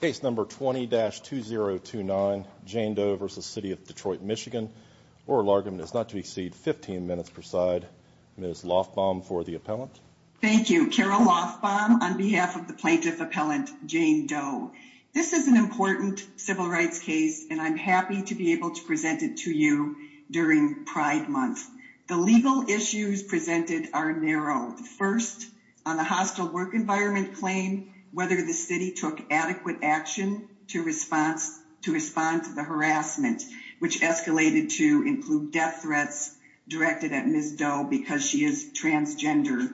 Case number 20-2029, Jane Doe v. City of Detroit MI. Oral argument is not to exceed 15 minutes per side. Ms. Lofbaum for the appellant. Thank you. Carol Lofbaum on behalf of the plaintiff appellant, Jane Doe. This is an important civil rights case and I'm happy to be able to present it to you during Pride Month. The legal issues presented are narrowed. First, on the hostile work environment claim, whether the city took adequate action to respond to the harassment, which escalated to include death threats directed at Ms. Doe because she is transgender.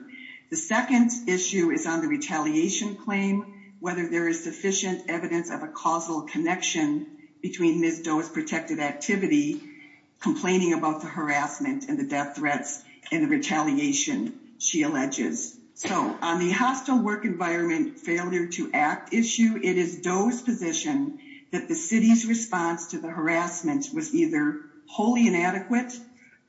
The second issue is on the retaliation claim, whether there is sufficient evidence of a causal connection between Ms. Doe's protected activity, complaining about the harassment and the death threats and the retaliation she alleges. So on the hostile work environment failure to act issue, it is Doe's position that the city's response to the harassment was either wholly inadequate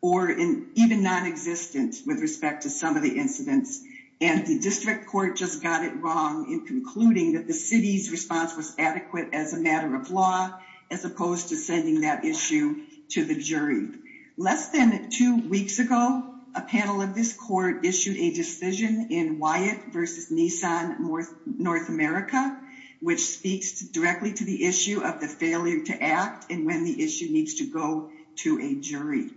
or even nonexistent with respect to some of the incidents. And the district court just got it wrong in concluding that the city's response was adequate as a matter of law, as opposed to sending that issue to the jury. Less than two weeks ago, a panel of this court issued a decision in Wyatt versus Nissan North America, which speaks directly to the issue of the failure to act and when the issue needs to go to a jury.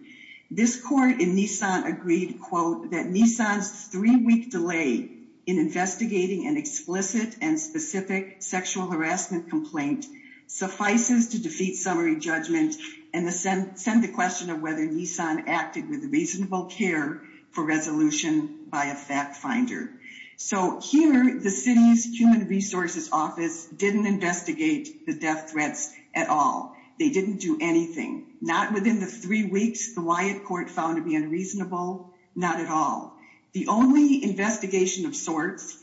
This court in Nissan agreed, quote, that Nissan's three-week delay in investigating an explicit and specific sexual harassment complaint suffices to defeat summary judgment and send the question of whether Nissan acted with reasonable care for resolution by a fact finder. So here, the city's human resources office didn't investigate the death threats at all. They didn't do anything. Not within the three weeks the Wyatt court found to be unreasonable, not at all. The only investigation of sorts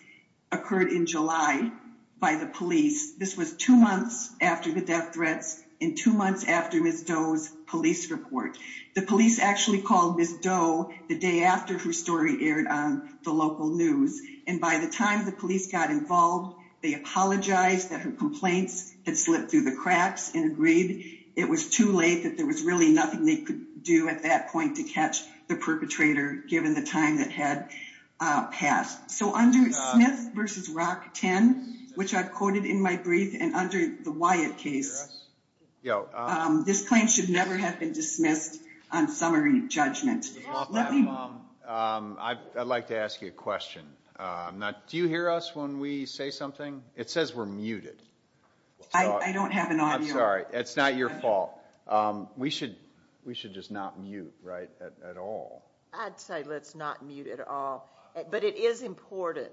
occurred in July by the police. This was two months after the death threats and two months after Ms. Doe's police report. The police actually called Ms. Doe the day after her story aired on the local news. And by the time the police got involved, they apologized that her complaints had slipped through the cracks and agreed it was too late that there was really nothing they could do at that point to catch the perpetrator, given the time that had passed. So under Smith v. Rock 10, which I've quoted in my brief, and under the Wyatt case, this claim should never have been dismissed on summary judgment. I'd like to ask you a question. Do you hear us when we say something? It says we're muted. I don't have an audio. I'm sorry. It's not your fault. We should just not mute, right, at all. I'd say let's not mute at all. But it is important.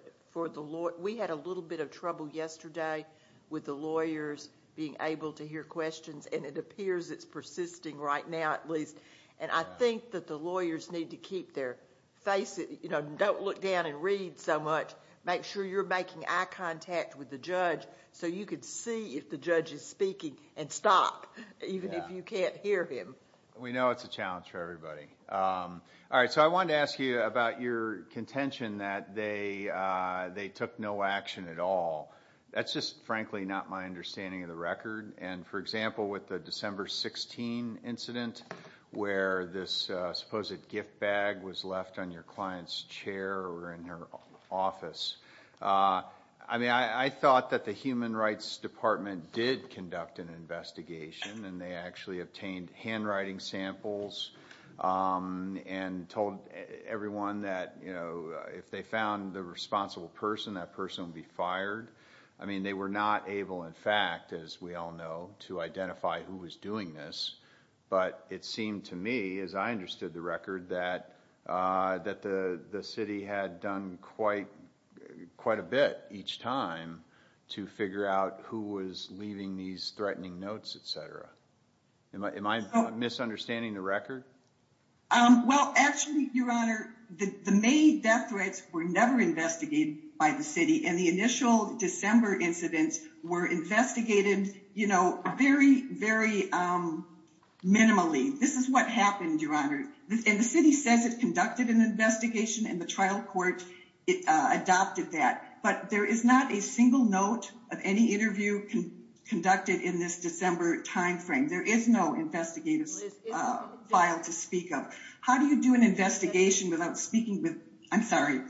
We had a little bit of trouble yesterday with the lawyers being able to hear questions, and it appears it's persisting right now at least. And I think that the lawyers need to keep their face, you know, don't look down and read so much. Make sure you're making eye contact with the judge so you can see if the judge is speaking and stop even if you can't hear him. We know it's a challenge for everybody. All right. So I wanted to ask you about your contention that they took no action at all. That's just frankly not my understanding of the record. And, for example, with the December 16 incident where this supposed gift bag was left on your client's chair or in her office, I mean, I thought that the Human Rights Department did conduct an investigation, and they actually obtained handwriting samples and told everyone that, you know, if they found the responsible person, that person would be fired. I mean, they were not able, in fact, as we all know, to identify who was doing this. But it seemed to me, as I understood the record, that the city had done quite a bit each time to figure out who was leaving these threatening notes, et cetera. Am I misunderstanding the record? Well, actually, Your Honor, the May death threats were never investigated by the city. And the initial December incidents were investigated, you know, very, very minimally. This is what happened, Your Honor. And the city says it conducted an investigation and the trial court adopted that. But there is not a single note of any interview conducted in this December time frame. There is no investigative file to speak of. How do you do an investigation without speaking with, I'm sorry.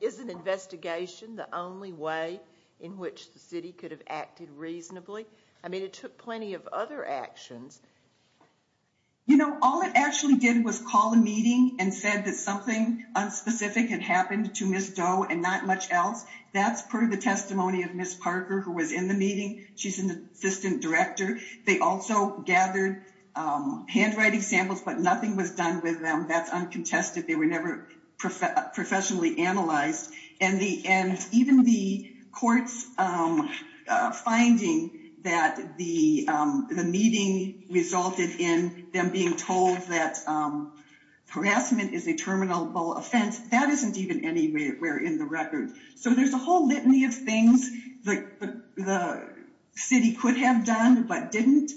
Is an investigation the only way in which the city could have acted reasonably? I mean, it took plenty of other actions. You know, all it actually did was call a meeting and said that something unspecific had happened to Ms. Doe and not much else. That's per the testimony of Ms. Parker, who was in the meeting. She's an assistant director. They also gathered handwriting samples, but nothing was done with them. That's uncontested. They were never professionally analyzed. And even the court's finding that the meeting resulted in them being told that harassment is a terminable offense, that isn't even anywhere in the record. So there's a whole litany of things the city could have done but didn't.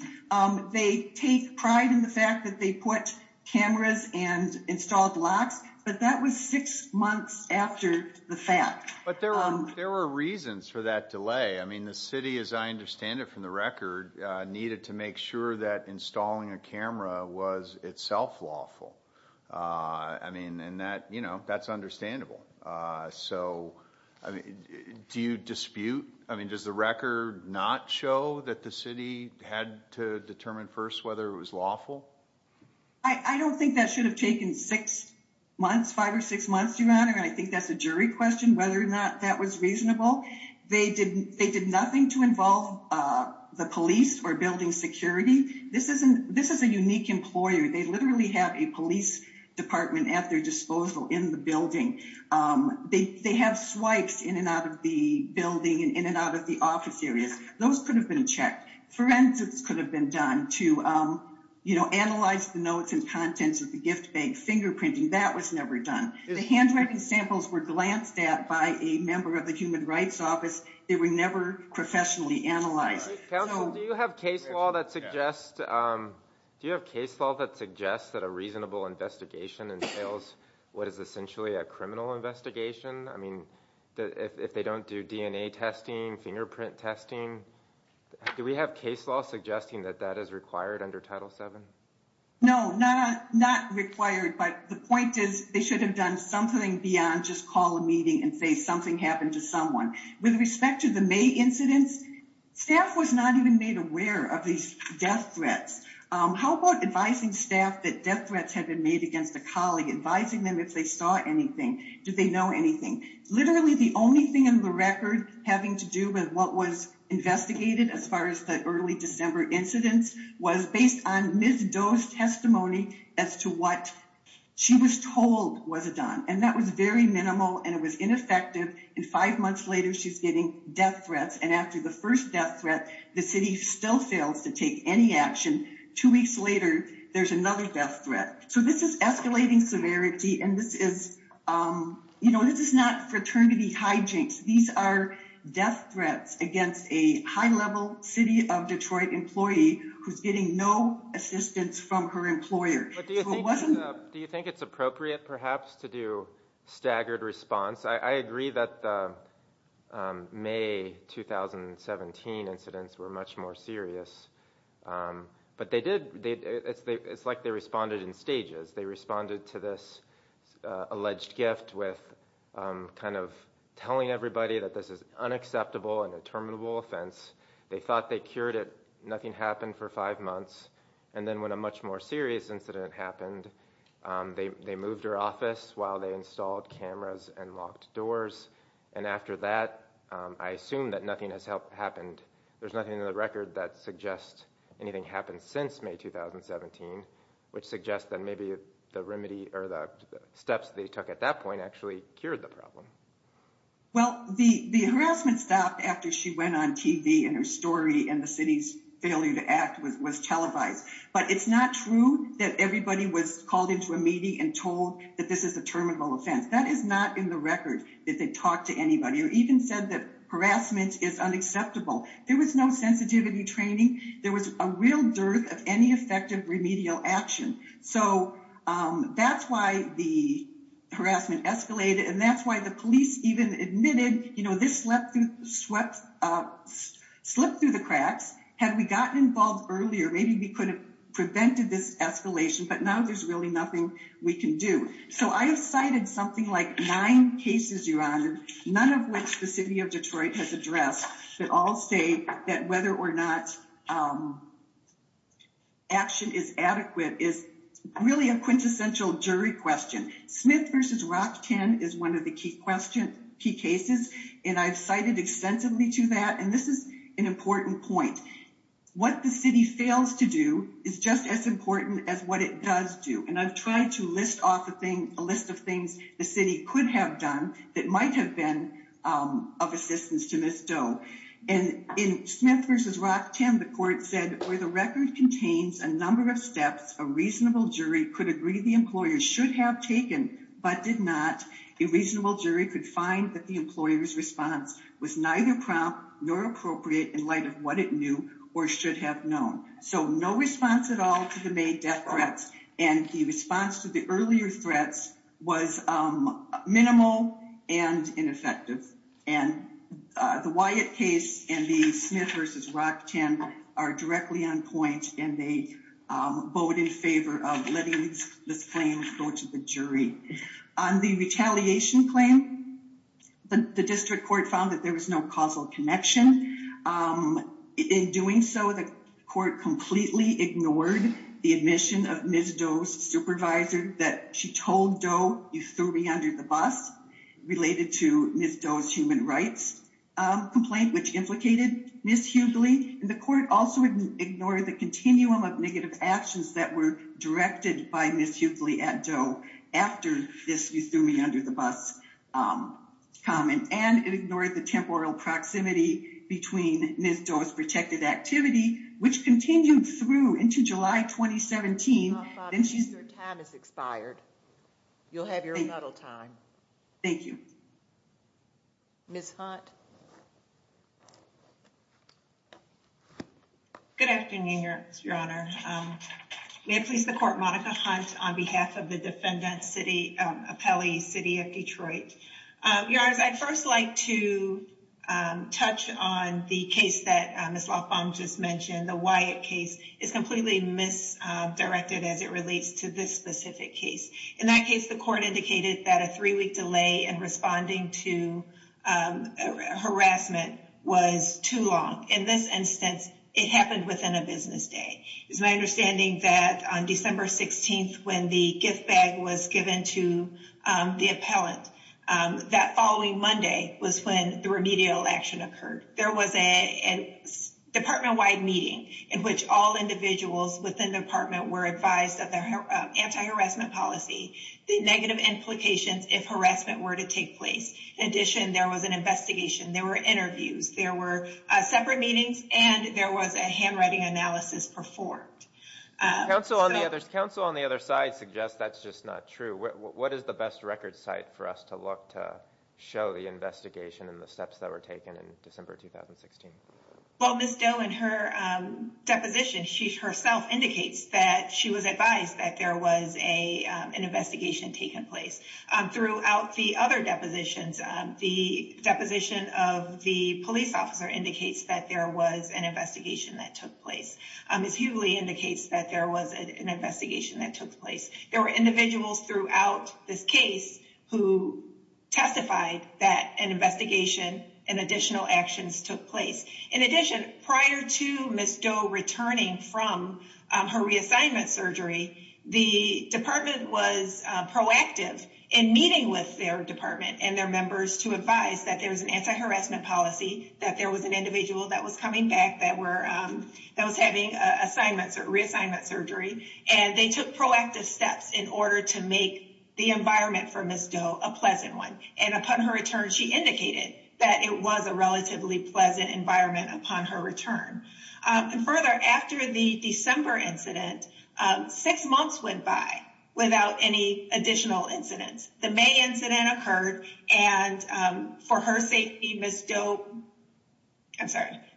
They take pride in the fact that they put cameras and installed locks, but that was six months after the fact. But there were reasons for that delay. I mean, the city, as I understand it from the record, needed to make sure that installing a camera was itself lawful. I mean, and that's understandable. So do you dispute? I mean, does the record not show that the city had to determine first whether it was lawful? I don't think that should have taken six months, five or six months, Your Honor. And I think that's a jury question whether or not that was reasonable. They did nothing to involve the police or building security. This is a unique employer. They literally have a police department at their disposal in the building. They have swipes in and out of the building and in and out of the office areas. Those could have been checked. Forensics could have been done to analyze the notes and contents of the gift bag, fingerprinting. That was never done. The handwriting samples were glanced at by a member of the Human Rights Office. They were never professionally analyzed. Do you have case law that suggests that a reasonable investigation entails what is essentially a criminal investigation? I mean, if they don't do DNA testing, fingerprint testing, do we have case law suggesting that that is required under Title 7? No, not required. But the point is, they should have done something beyond just call a meeting and say something happened to someone. With respect to the May incidents, staff was not even made aware of these death threats. How about advising staff that death threats have been made against a colleague, advising them if they saw anything? Do they know anything? Literally, the only thing in the record having to do with what was investigated as far as the early December incidents was based on Ms. Doe's testimony as to what she was told was done. And that was very minimal and it was ineffective. And five months later, she's getting death threats. And after the first death threat, the city still fails to take any action. Two weeks later, there's another death threat. So this is escalating severity and this is, you know, this is not fraternity hijinks. These are death threats against a high-level city of Detroit employee who's getting no assistance from her employer. Do you think it's appropriate, perhaps, to do staggered response? I agree that the May 2017 incidents were much more serious. But they did, it's like they responded in stages. They responded to this alleged gift with kind of telling everybody that this is unacceptable and a terminable offense. They thought they cured it. Nothing happened for five months. And then when a much more serious incident happened, they moved her office while they installed cameras and locked doors. And after that, I assume that nothing has happened. There's nothing in the record that suggests anything happened since May 2017, which suggests that maybe the remedy or the steps they took at that point actually cured the problem. Well, the harassment stopped after she went on TV and her story and the city's failure to act was televised. But it's not true that everybody was called into a meeting and told that this is a terminable offense. That is not in the record that they talked to anybody or even said that harassment is unacceptable. There was no sensitivity training. There was a real dearth of any effective remedial action. So that's why the harassment escalated. And that's why the police even admitted, you know, this slipped through the cracks. Had we gotten involved earlier, maybe we could have prevented this escalation. But now there's really nothing we can do. So I have cited something like nine cases, Your Honor, none of which the city of Detroit has addressed that all state that whether or not action is adequate is really a quintessential jury question. Smith v. Rockton is one of the key questions, key cases. And I've cited extensively to that. And this is an important point. What the city fails to do is just as important as what it does do. And I've tried to list off a thing, a list of things the city could have done that might have been of assistance to Ms. Doe. And in Smith v. Rockton, the court said, where the record contains a number of steps, a reasonable jury could agree the employer should have taken but did not. A reasonable jury could find that the employer's response was neither prompt nor appropriate in light of what it knew or should have known. So no response at all to the May death threats. And the response to the earlier threats was minimal and ineffective. And the Wyatt case and the Smith v. Rockton are directly on point. And they vote in favor of letting this claim go to the jury. On the retaliation claim, the district court found that there was no causal connection. In doing so, the court completely ignored the admission of Ms. Doe's supervisor that she told Doe, you threw me under the bus, related to Ms. Doe's human rights complaint, which implicated Ms. Hughley. And the court also ignored the continuum of negative actions that were directed by Ms. Hughley at Doe after this, you threw me under the bus comment. And it ignored the temporal proximity between Ms. Doe's protected activity, which continued through into July 2017. Your time has expired. You'll have your rebuttal time. Thank you. Ms. Hunt. Good afternoon, Your Honor. May I please the court, Monica Hunt, on behalf of the defendant city, Appellee City of Detroit. Your Honor, I'd first like to touch on the case that Ms. Loughbaum just mentioned. The Wyatt case is completely misdirected as it relates to this specific case. In that case, the court indicated that a three week delay in responding to harassment was too long. In this instance, it happened within a business day. It's my understanding that on December 16th, when the gift bag was given to the appellant, that following Monday was when the remedial action occurred. There was a department wide meeting in which all individuals within the department were advised of their anti-harassment policy, the negative implications if harassment were to take place. In addition, there was an investigation, there were interviews, there were separate meetings, and there was a handwriting analysis performed. Counsel on the other side suggests that's just not true. What is the best record site for us to look to show the investigation and the steps that were taken in December 2016? Well, Ms. Doe, in her deposition, she herself indicates that she was advised that there was an investigation taking place. Throughout the other depositions, the deposition of the police officer indicates that there was an investigation that took place. Ms. Hughley indicates that there was an investigation that took place. There were individuals throughout this case who testified that an investigation and additional actions took place. In addition, prior to Ms. Doe returning from her reassignment surgery, the department was proactive in meeting with their department and their members to advise that there was an anti-harassment policy, that there was an individual that was coming back that was having reassignment surgery, and they took proactive steps in order to make the environment for Ms. Doe a pleasant one. Upon her return, she indicated that it was a relatively pleasant environment upon her return. Further, after the December incident, six months went by without any additional incidents. The May incident occurred, and for her safety, Ms. Doe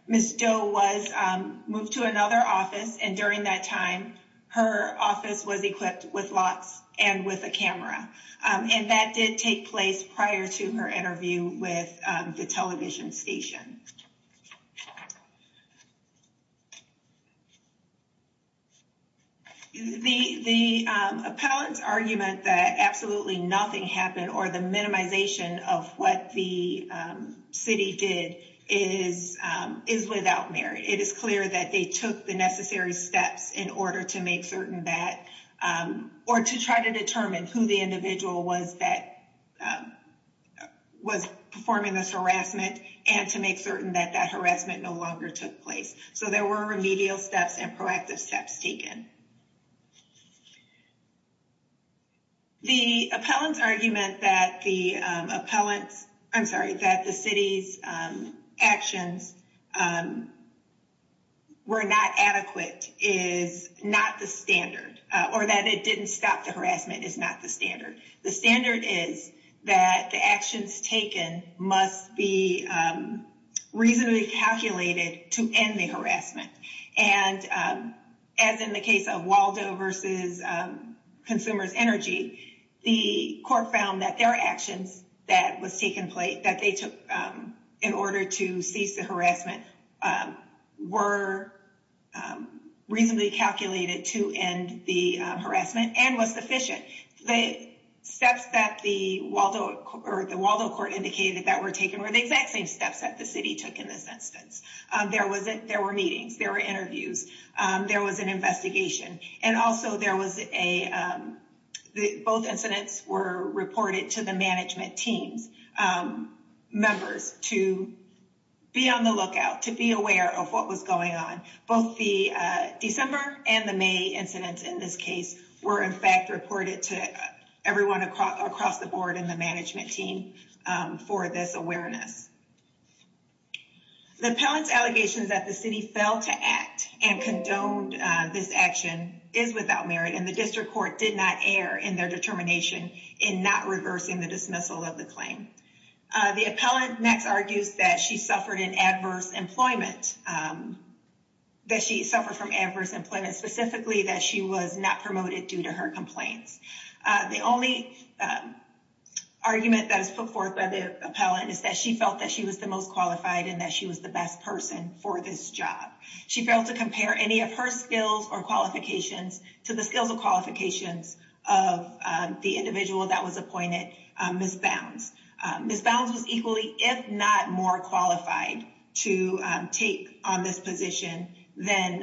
was moved to another office, and during that time, her office was equipped with locks and with a camera. That did take place prior to her interview with the television station. The appellant's argument that absolutely nothing happened or the minimization of what the city did is without merit. It is clear that they took the necessary steps in order to make certain that or to try to determine who the individual was that was performing this harassment and to make certain that that harassment no longer took place. So there were remedial steps and proactive steps taken. The appellant's argument that the city's actions were not adequate is not the standard, or that it didn't stop the harassment is not the standard. The standard is that the actions taken must be reasonably calculated to end the harassment. And as in the case of Waldo versus Consumers Energy, the court found that their actions that was taken in order to cease the harassment were reasonably calculated to end the harassment and was sufficient. The steps that the Waldo court indicated that were taken were the exact same steps that the city took in this instance. There were meetings, there were interviews, there was an investigation. And also both incidents were reported to the management team members to be on the lookout, to be aware of what was going on. Both the December and the May incidents in this case were in fact reported to everyone across the board and the management team for this awareness. The appellant's allegations that the city failed to act and condoned this action is without merit and the district court did not err in their determination in not reversing the dismissal of the claim. The appellant next argues that she suffered from adverse employment, specifically that she was not promoted due to her complaints. The only argument that is put forth by the appellant is that she felt that she was the most qualified and that she was the best person for this job. She failed to compare any of her skills or qualifications to the skills or qualifications of the individual that was appointed, Ms. Bounds. Ms. Bounds was equally, if not more qualified to take on this position than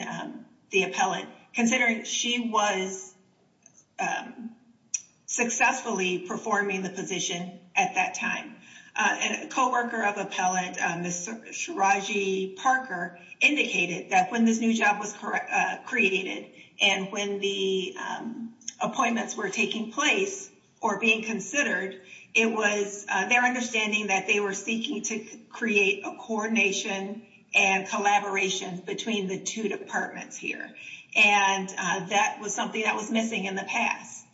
the appellant, considering she was successfully performing the position at that time. A co-worker of the appellant, Ms. Shiraji Parker, indicated that when this new job was created and when the appointments were taking place or being considered, it was their understanding that they were seeking to create a coordination and collaboration between the two departments here. And that was something that was missing in the past.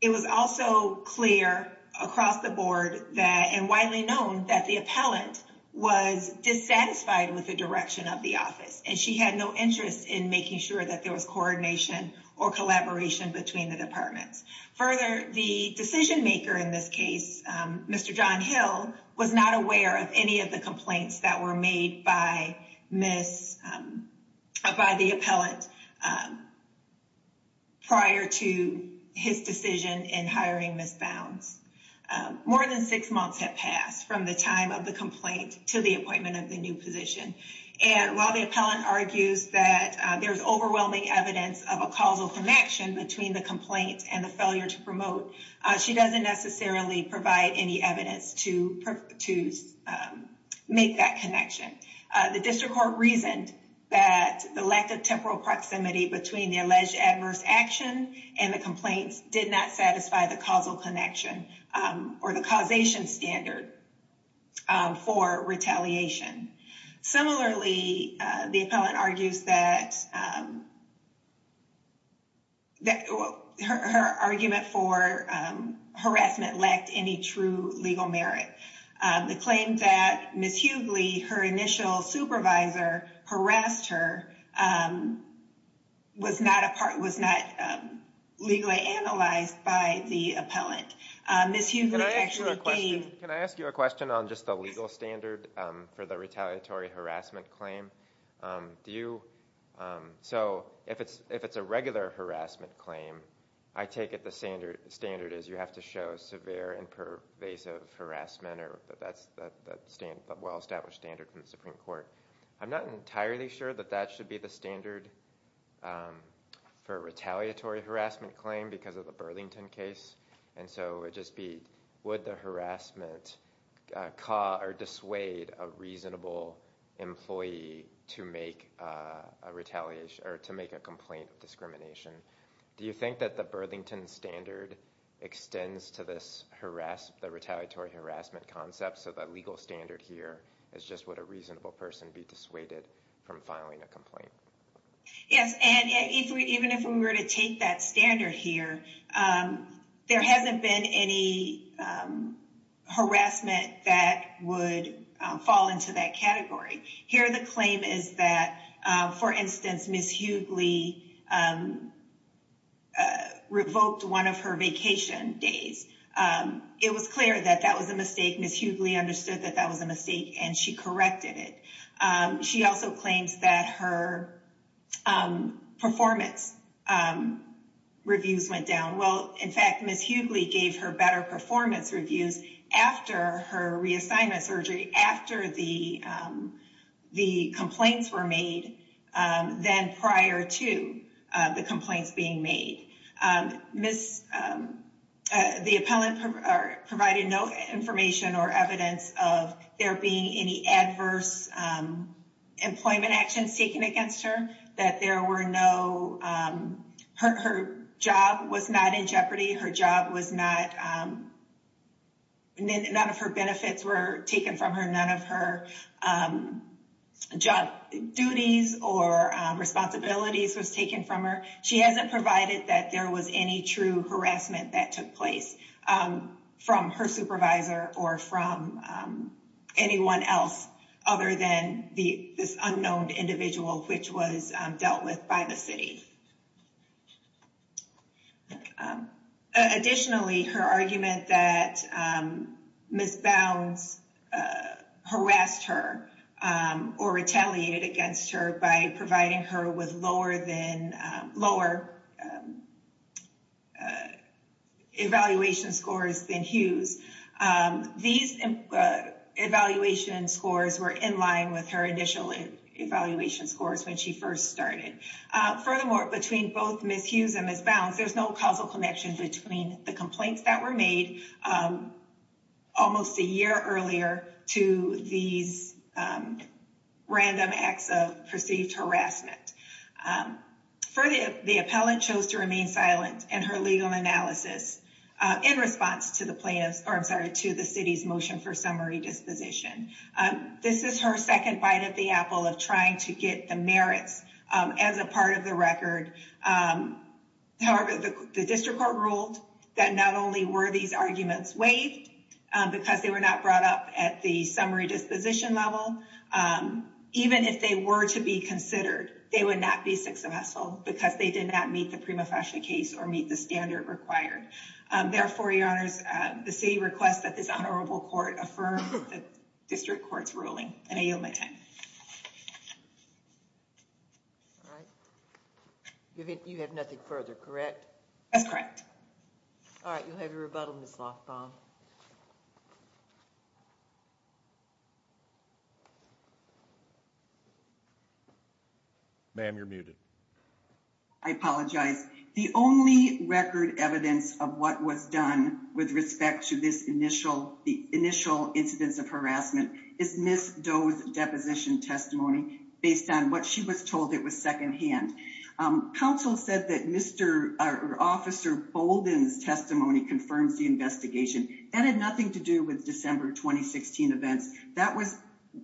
It was also clear across the board that and widely known that the appellant was dissatisfied with the direction of the office and she had no interest in making sure that there was coordination or collaboration between the departments. Further, the decision maker in this case, Mr. John Hill, was not aware of any of the complaints that were made by Ms., by the appellant prior to his decision in hiring Ms. Bounds. More than six months had passed from the time of the complaint to the appointment of the new position. And while the appellant argues that there's overwhelming evidence of a causal connection between the complaint and the failure to promote, she doesn't necessarily provide any evidence to make that connection. The district court reasoned that the lack of temporal proximity between the alleged adverse action and the complaints did not satisfy the causal connection or the causation standard for retaliation. Similarly, the appellant argues that her argument for harassment lacked any true legal merit. The claim that Ms. Hughley, her initial supervisor, harassed her was not a part, was not legally analyzed by the appellant. Can I ask you a question on just the legal standard for the retaliatory harassment claim? So if it's a regular harassment claim, I take it the standard is you have to show severe and pervasive harassment or that's the well-established standard from the Supreme Court. I'm not entirely sure that that should be the standard for a retaliatory harassment claim because of the Burlington case. And so it would just be, would the harassment cause or dissuade a reasonable employee to make a complaint of discrimination? Do you think that the Burlington standard extends to this harass, the retaliatory harassment concept? So the legal standard here is just would a reasonable person be dissuaded from filing a complaint? Yes. And even if we were to take that standard here, there hasn't been any harassment that would fall into that category. Here, the claim is that, for instance, Ms. Hughley revoked one of her vacation days. It was clear that that was a mistake. Ms. Hughley understood that that was a mistake and she corrected it. She also claims that her performance reviews went down. Well, in fact, Ms. Hughley gave her better performance reviews after her reassignment surgery, after the complaints were made than prior to the complaints being made. Ms., the appellant provided no information or evidence of there being any adverse employment actions taken against her, that there were no, her job was not in jeopardy, her job was not, none of her benefits were taken from her, none of her job duties or responsibilities was taken from her. She hasn't provided that there was any true harassment that took place from her supervisor or from anyone else other than this unknown individual, which was dealt with by the city. Additionally, her argument that Ms. Bounds harassed her or retaliated against her by providing her with lower evaluation scores than Hughes, these evaluation scores were in line with her initial evaluation scores when she first started. Furthermore, between both Ms. Hughes and Ms. Bounds, there's no causal connection between the complaints that were made almost a year earlier to these random acts of perceived harassment. Further, the appellant chose to remain silent in her legal analysis in response to the plaintiff's, or I'm sorry, to the city's motion for summary disposition. This is her second bite at the apple of trying to get the merits as a part of the record. However, the district court ruled that not only were these arguments waived because they were not brought up at the summary disposition level, even if they were to be considered, they would not be 6-0 because they did not meet the prima facie case or meet the standard required. Therefore, your honors, the city requests that this honorable court affirm the district court's ruling, and I yield my time. You have nothing further, correct? That's correct. All right, you'll have your rebuttal, Ms. Lofbaum. Ma'am, you're muted. I apologize. The only record evidence of what was done with respect to this initial, the initial incidents of harassment is Ms. Doe's deposition testimony based on what she was told it was secondhand. Counsel said that Mr. or Officer Bolden's testimony confirms the investigation. That had nothing to do with December 2016 events. That was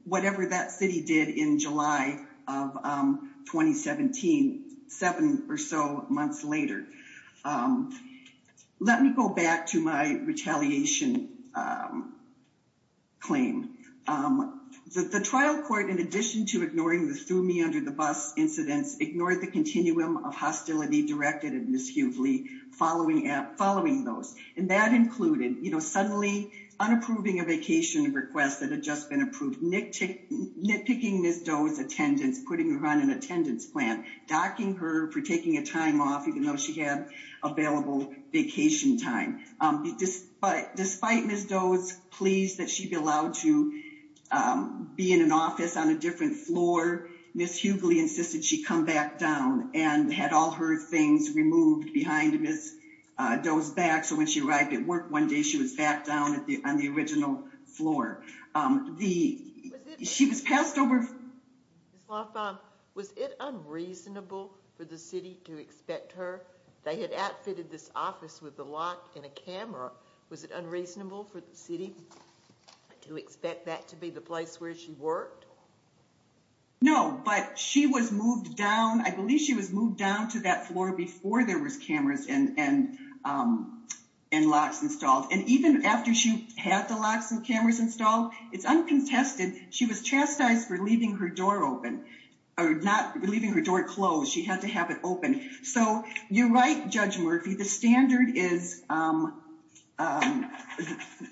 whatever that city did in July of 2017, seven or so months later. Let me go back to my retaliation claim. The trial court, in addition to ignoring the threw me under the bus incidents, ignored the continuum of hostility directed at Ms. Hughley following those. And that included, you know, suddenly unapproving a vacation request that had just been approved, nitpicking Ms. Doe's attendance, putting her on an attendance plan, docking her for taking a time off, even though she had available vacation time. Despite Ms. Doe's pleas that she'd be allowed to be in an office on a different floor, Ms. Hughley insisted she come back down and had all her things removed behind Ms. Doe's back. So when she arrived at work one day, she was back down on the original floor. She was passed over. Was it unreasonable for the city to expect her? They had outfitted this office with the lock and a camera. Was it unreasonable for the city to expect that to be the place where she worked? No, but she was moved down. I believe she was moved down to that floor before there was cameras and locks installed. And even after she had the locks and cameras installed, it's uncontested, she was chastised for leaving her door open, or not leaving her door closed. She had to have it open. So you're right, Judge Murphy, the standard is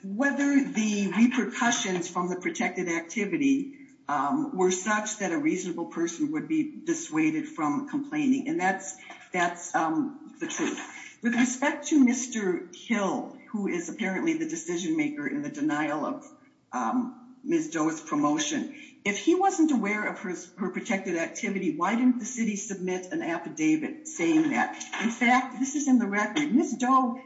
whether the repercussions from the protected activity were such that a reasonable person would be dissuaded from complaining. And that's the truth. With respect to Mr. Hill, who is apparently the decision maker in the denial of Ms. Doe's promotion, if he wasn't aware of her protected activity, why didn't the city submit an affidavit saying that? In fact, this is in the record, Ms. Doe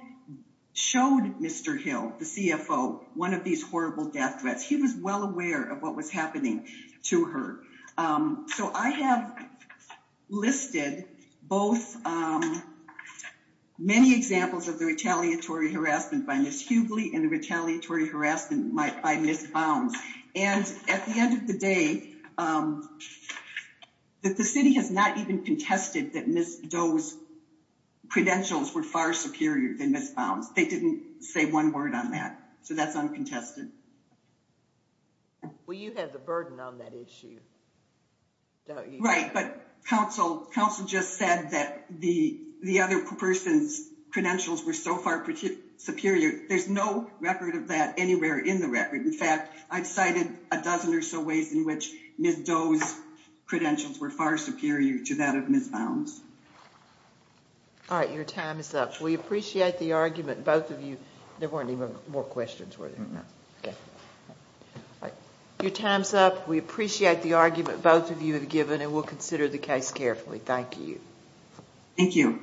showed Mr. Hill, the CFO, one of these horrible death threats. He was well aware of what was happening to her. So I have listed both many examples of the retaliatory harassment by Ms. Hughley and the retaliatory harassment by Ms. Bounds. And at the end of the day, the city has not even contested that Ms. Doe's credentials were far superior than Ms. Bounds. They didn't say one word on that. So that's uncontested. Well, you have the burden on that issue, don't you? Right, but counsel just said that the other person's credentials were so far superior. There's no record of that anywhere in the record. In fact, I've cited a dozen or so ways in which Ms. Doe's credentials were far superior to that of Ms. Bounds. All right, your time is up. We appreciate the argument, both of you. There weren't even more questions, were there? No. Your time is up. We appreciate the argument both of you have given, and we'll consider the case carefully. Thank you. Thank you.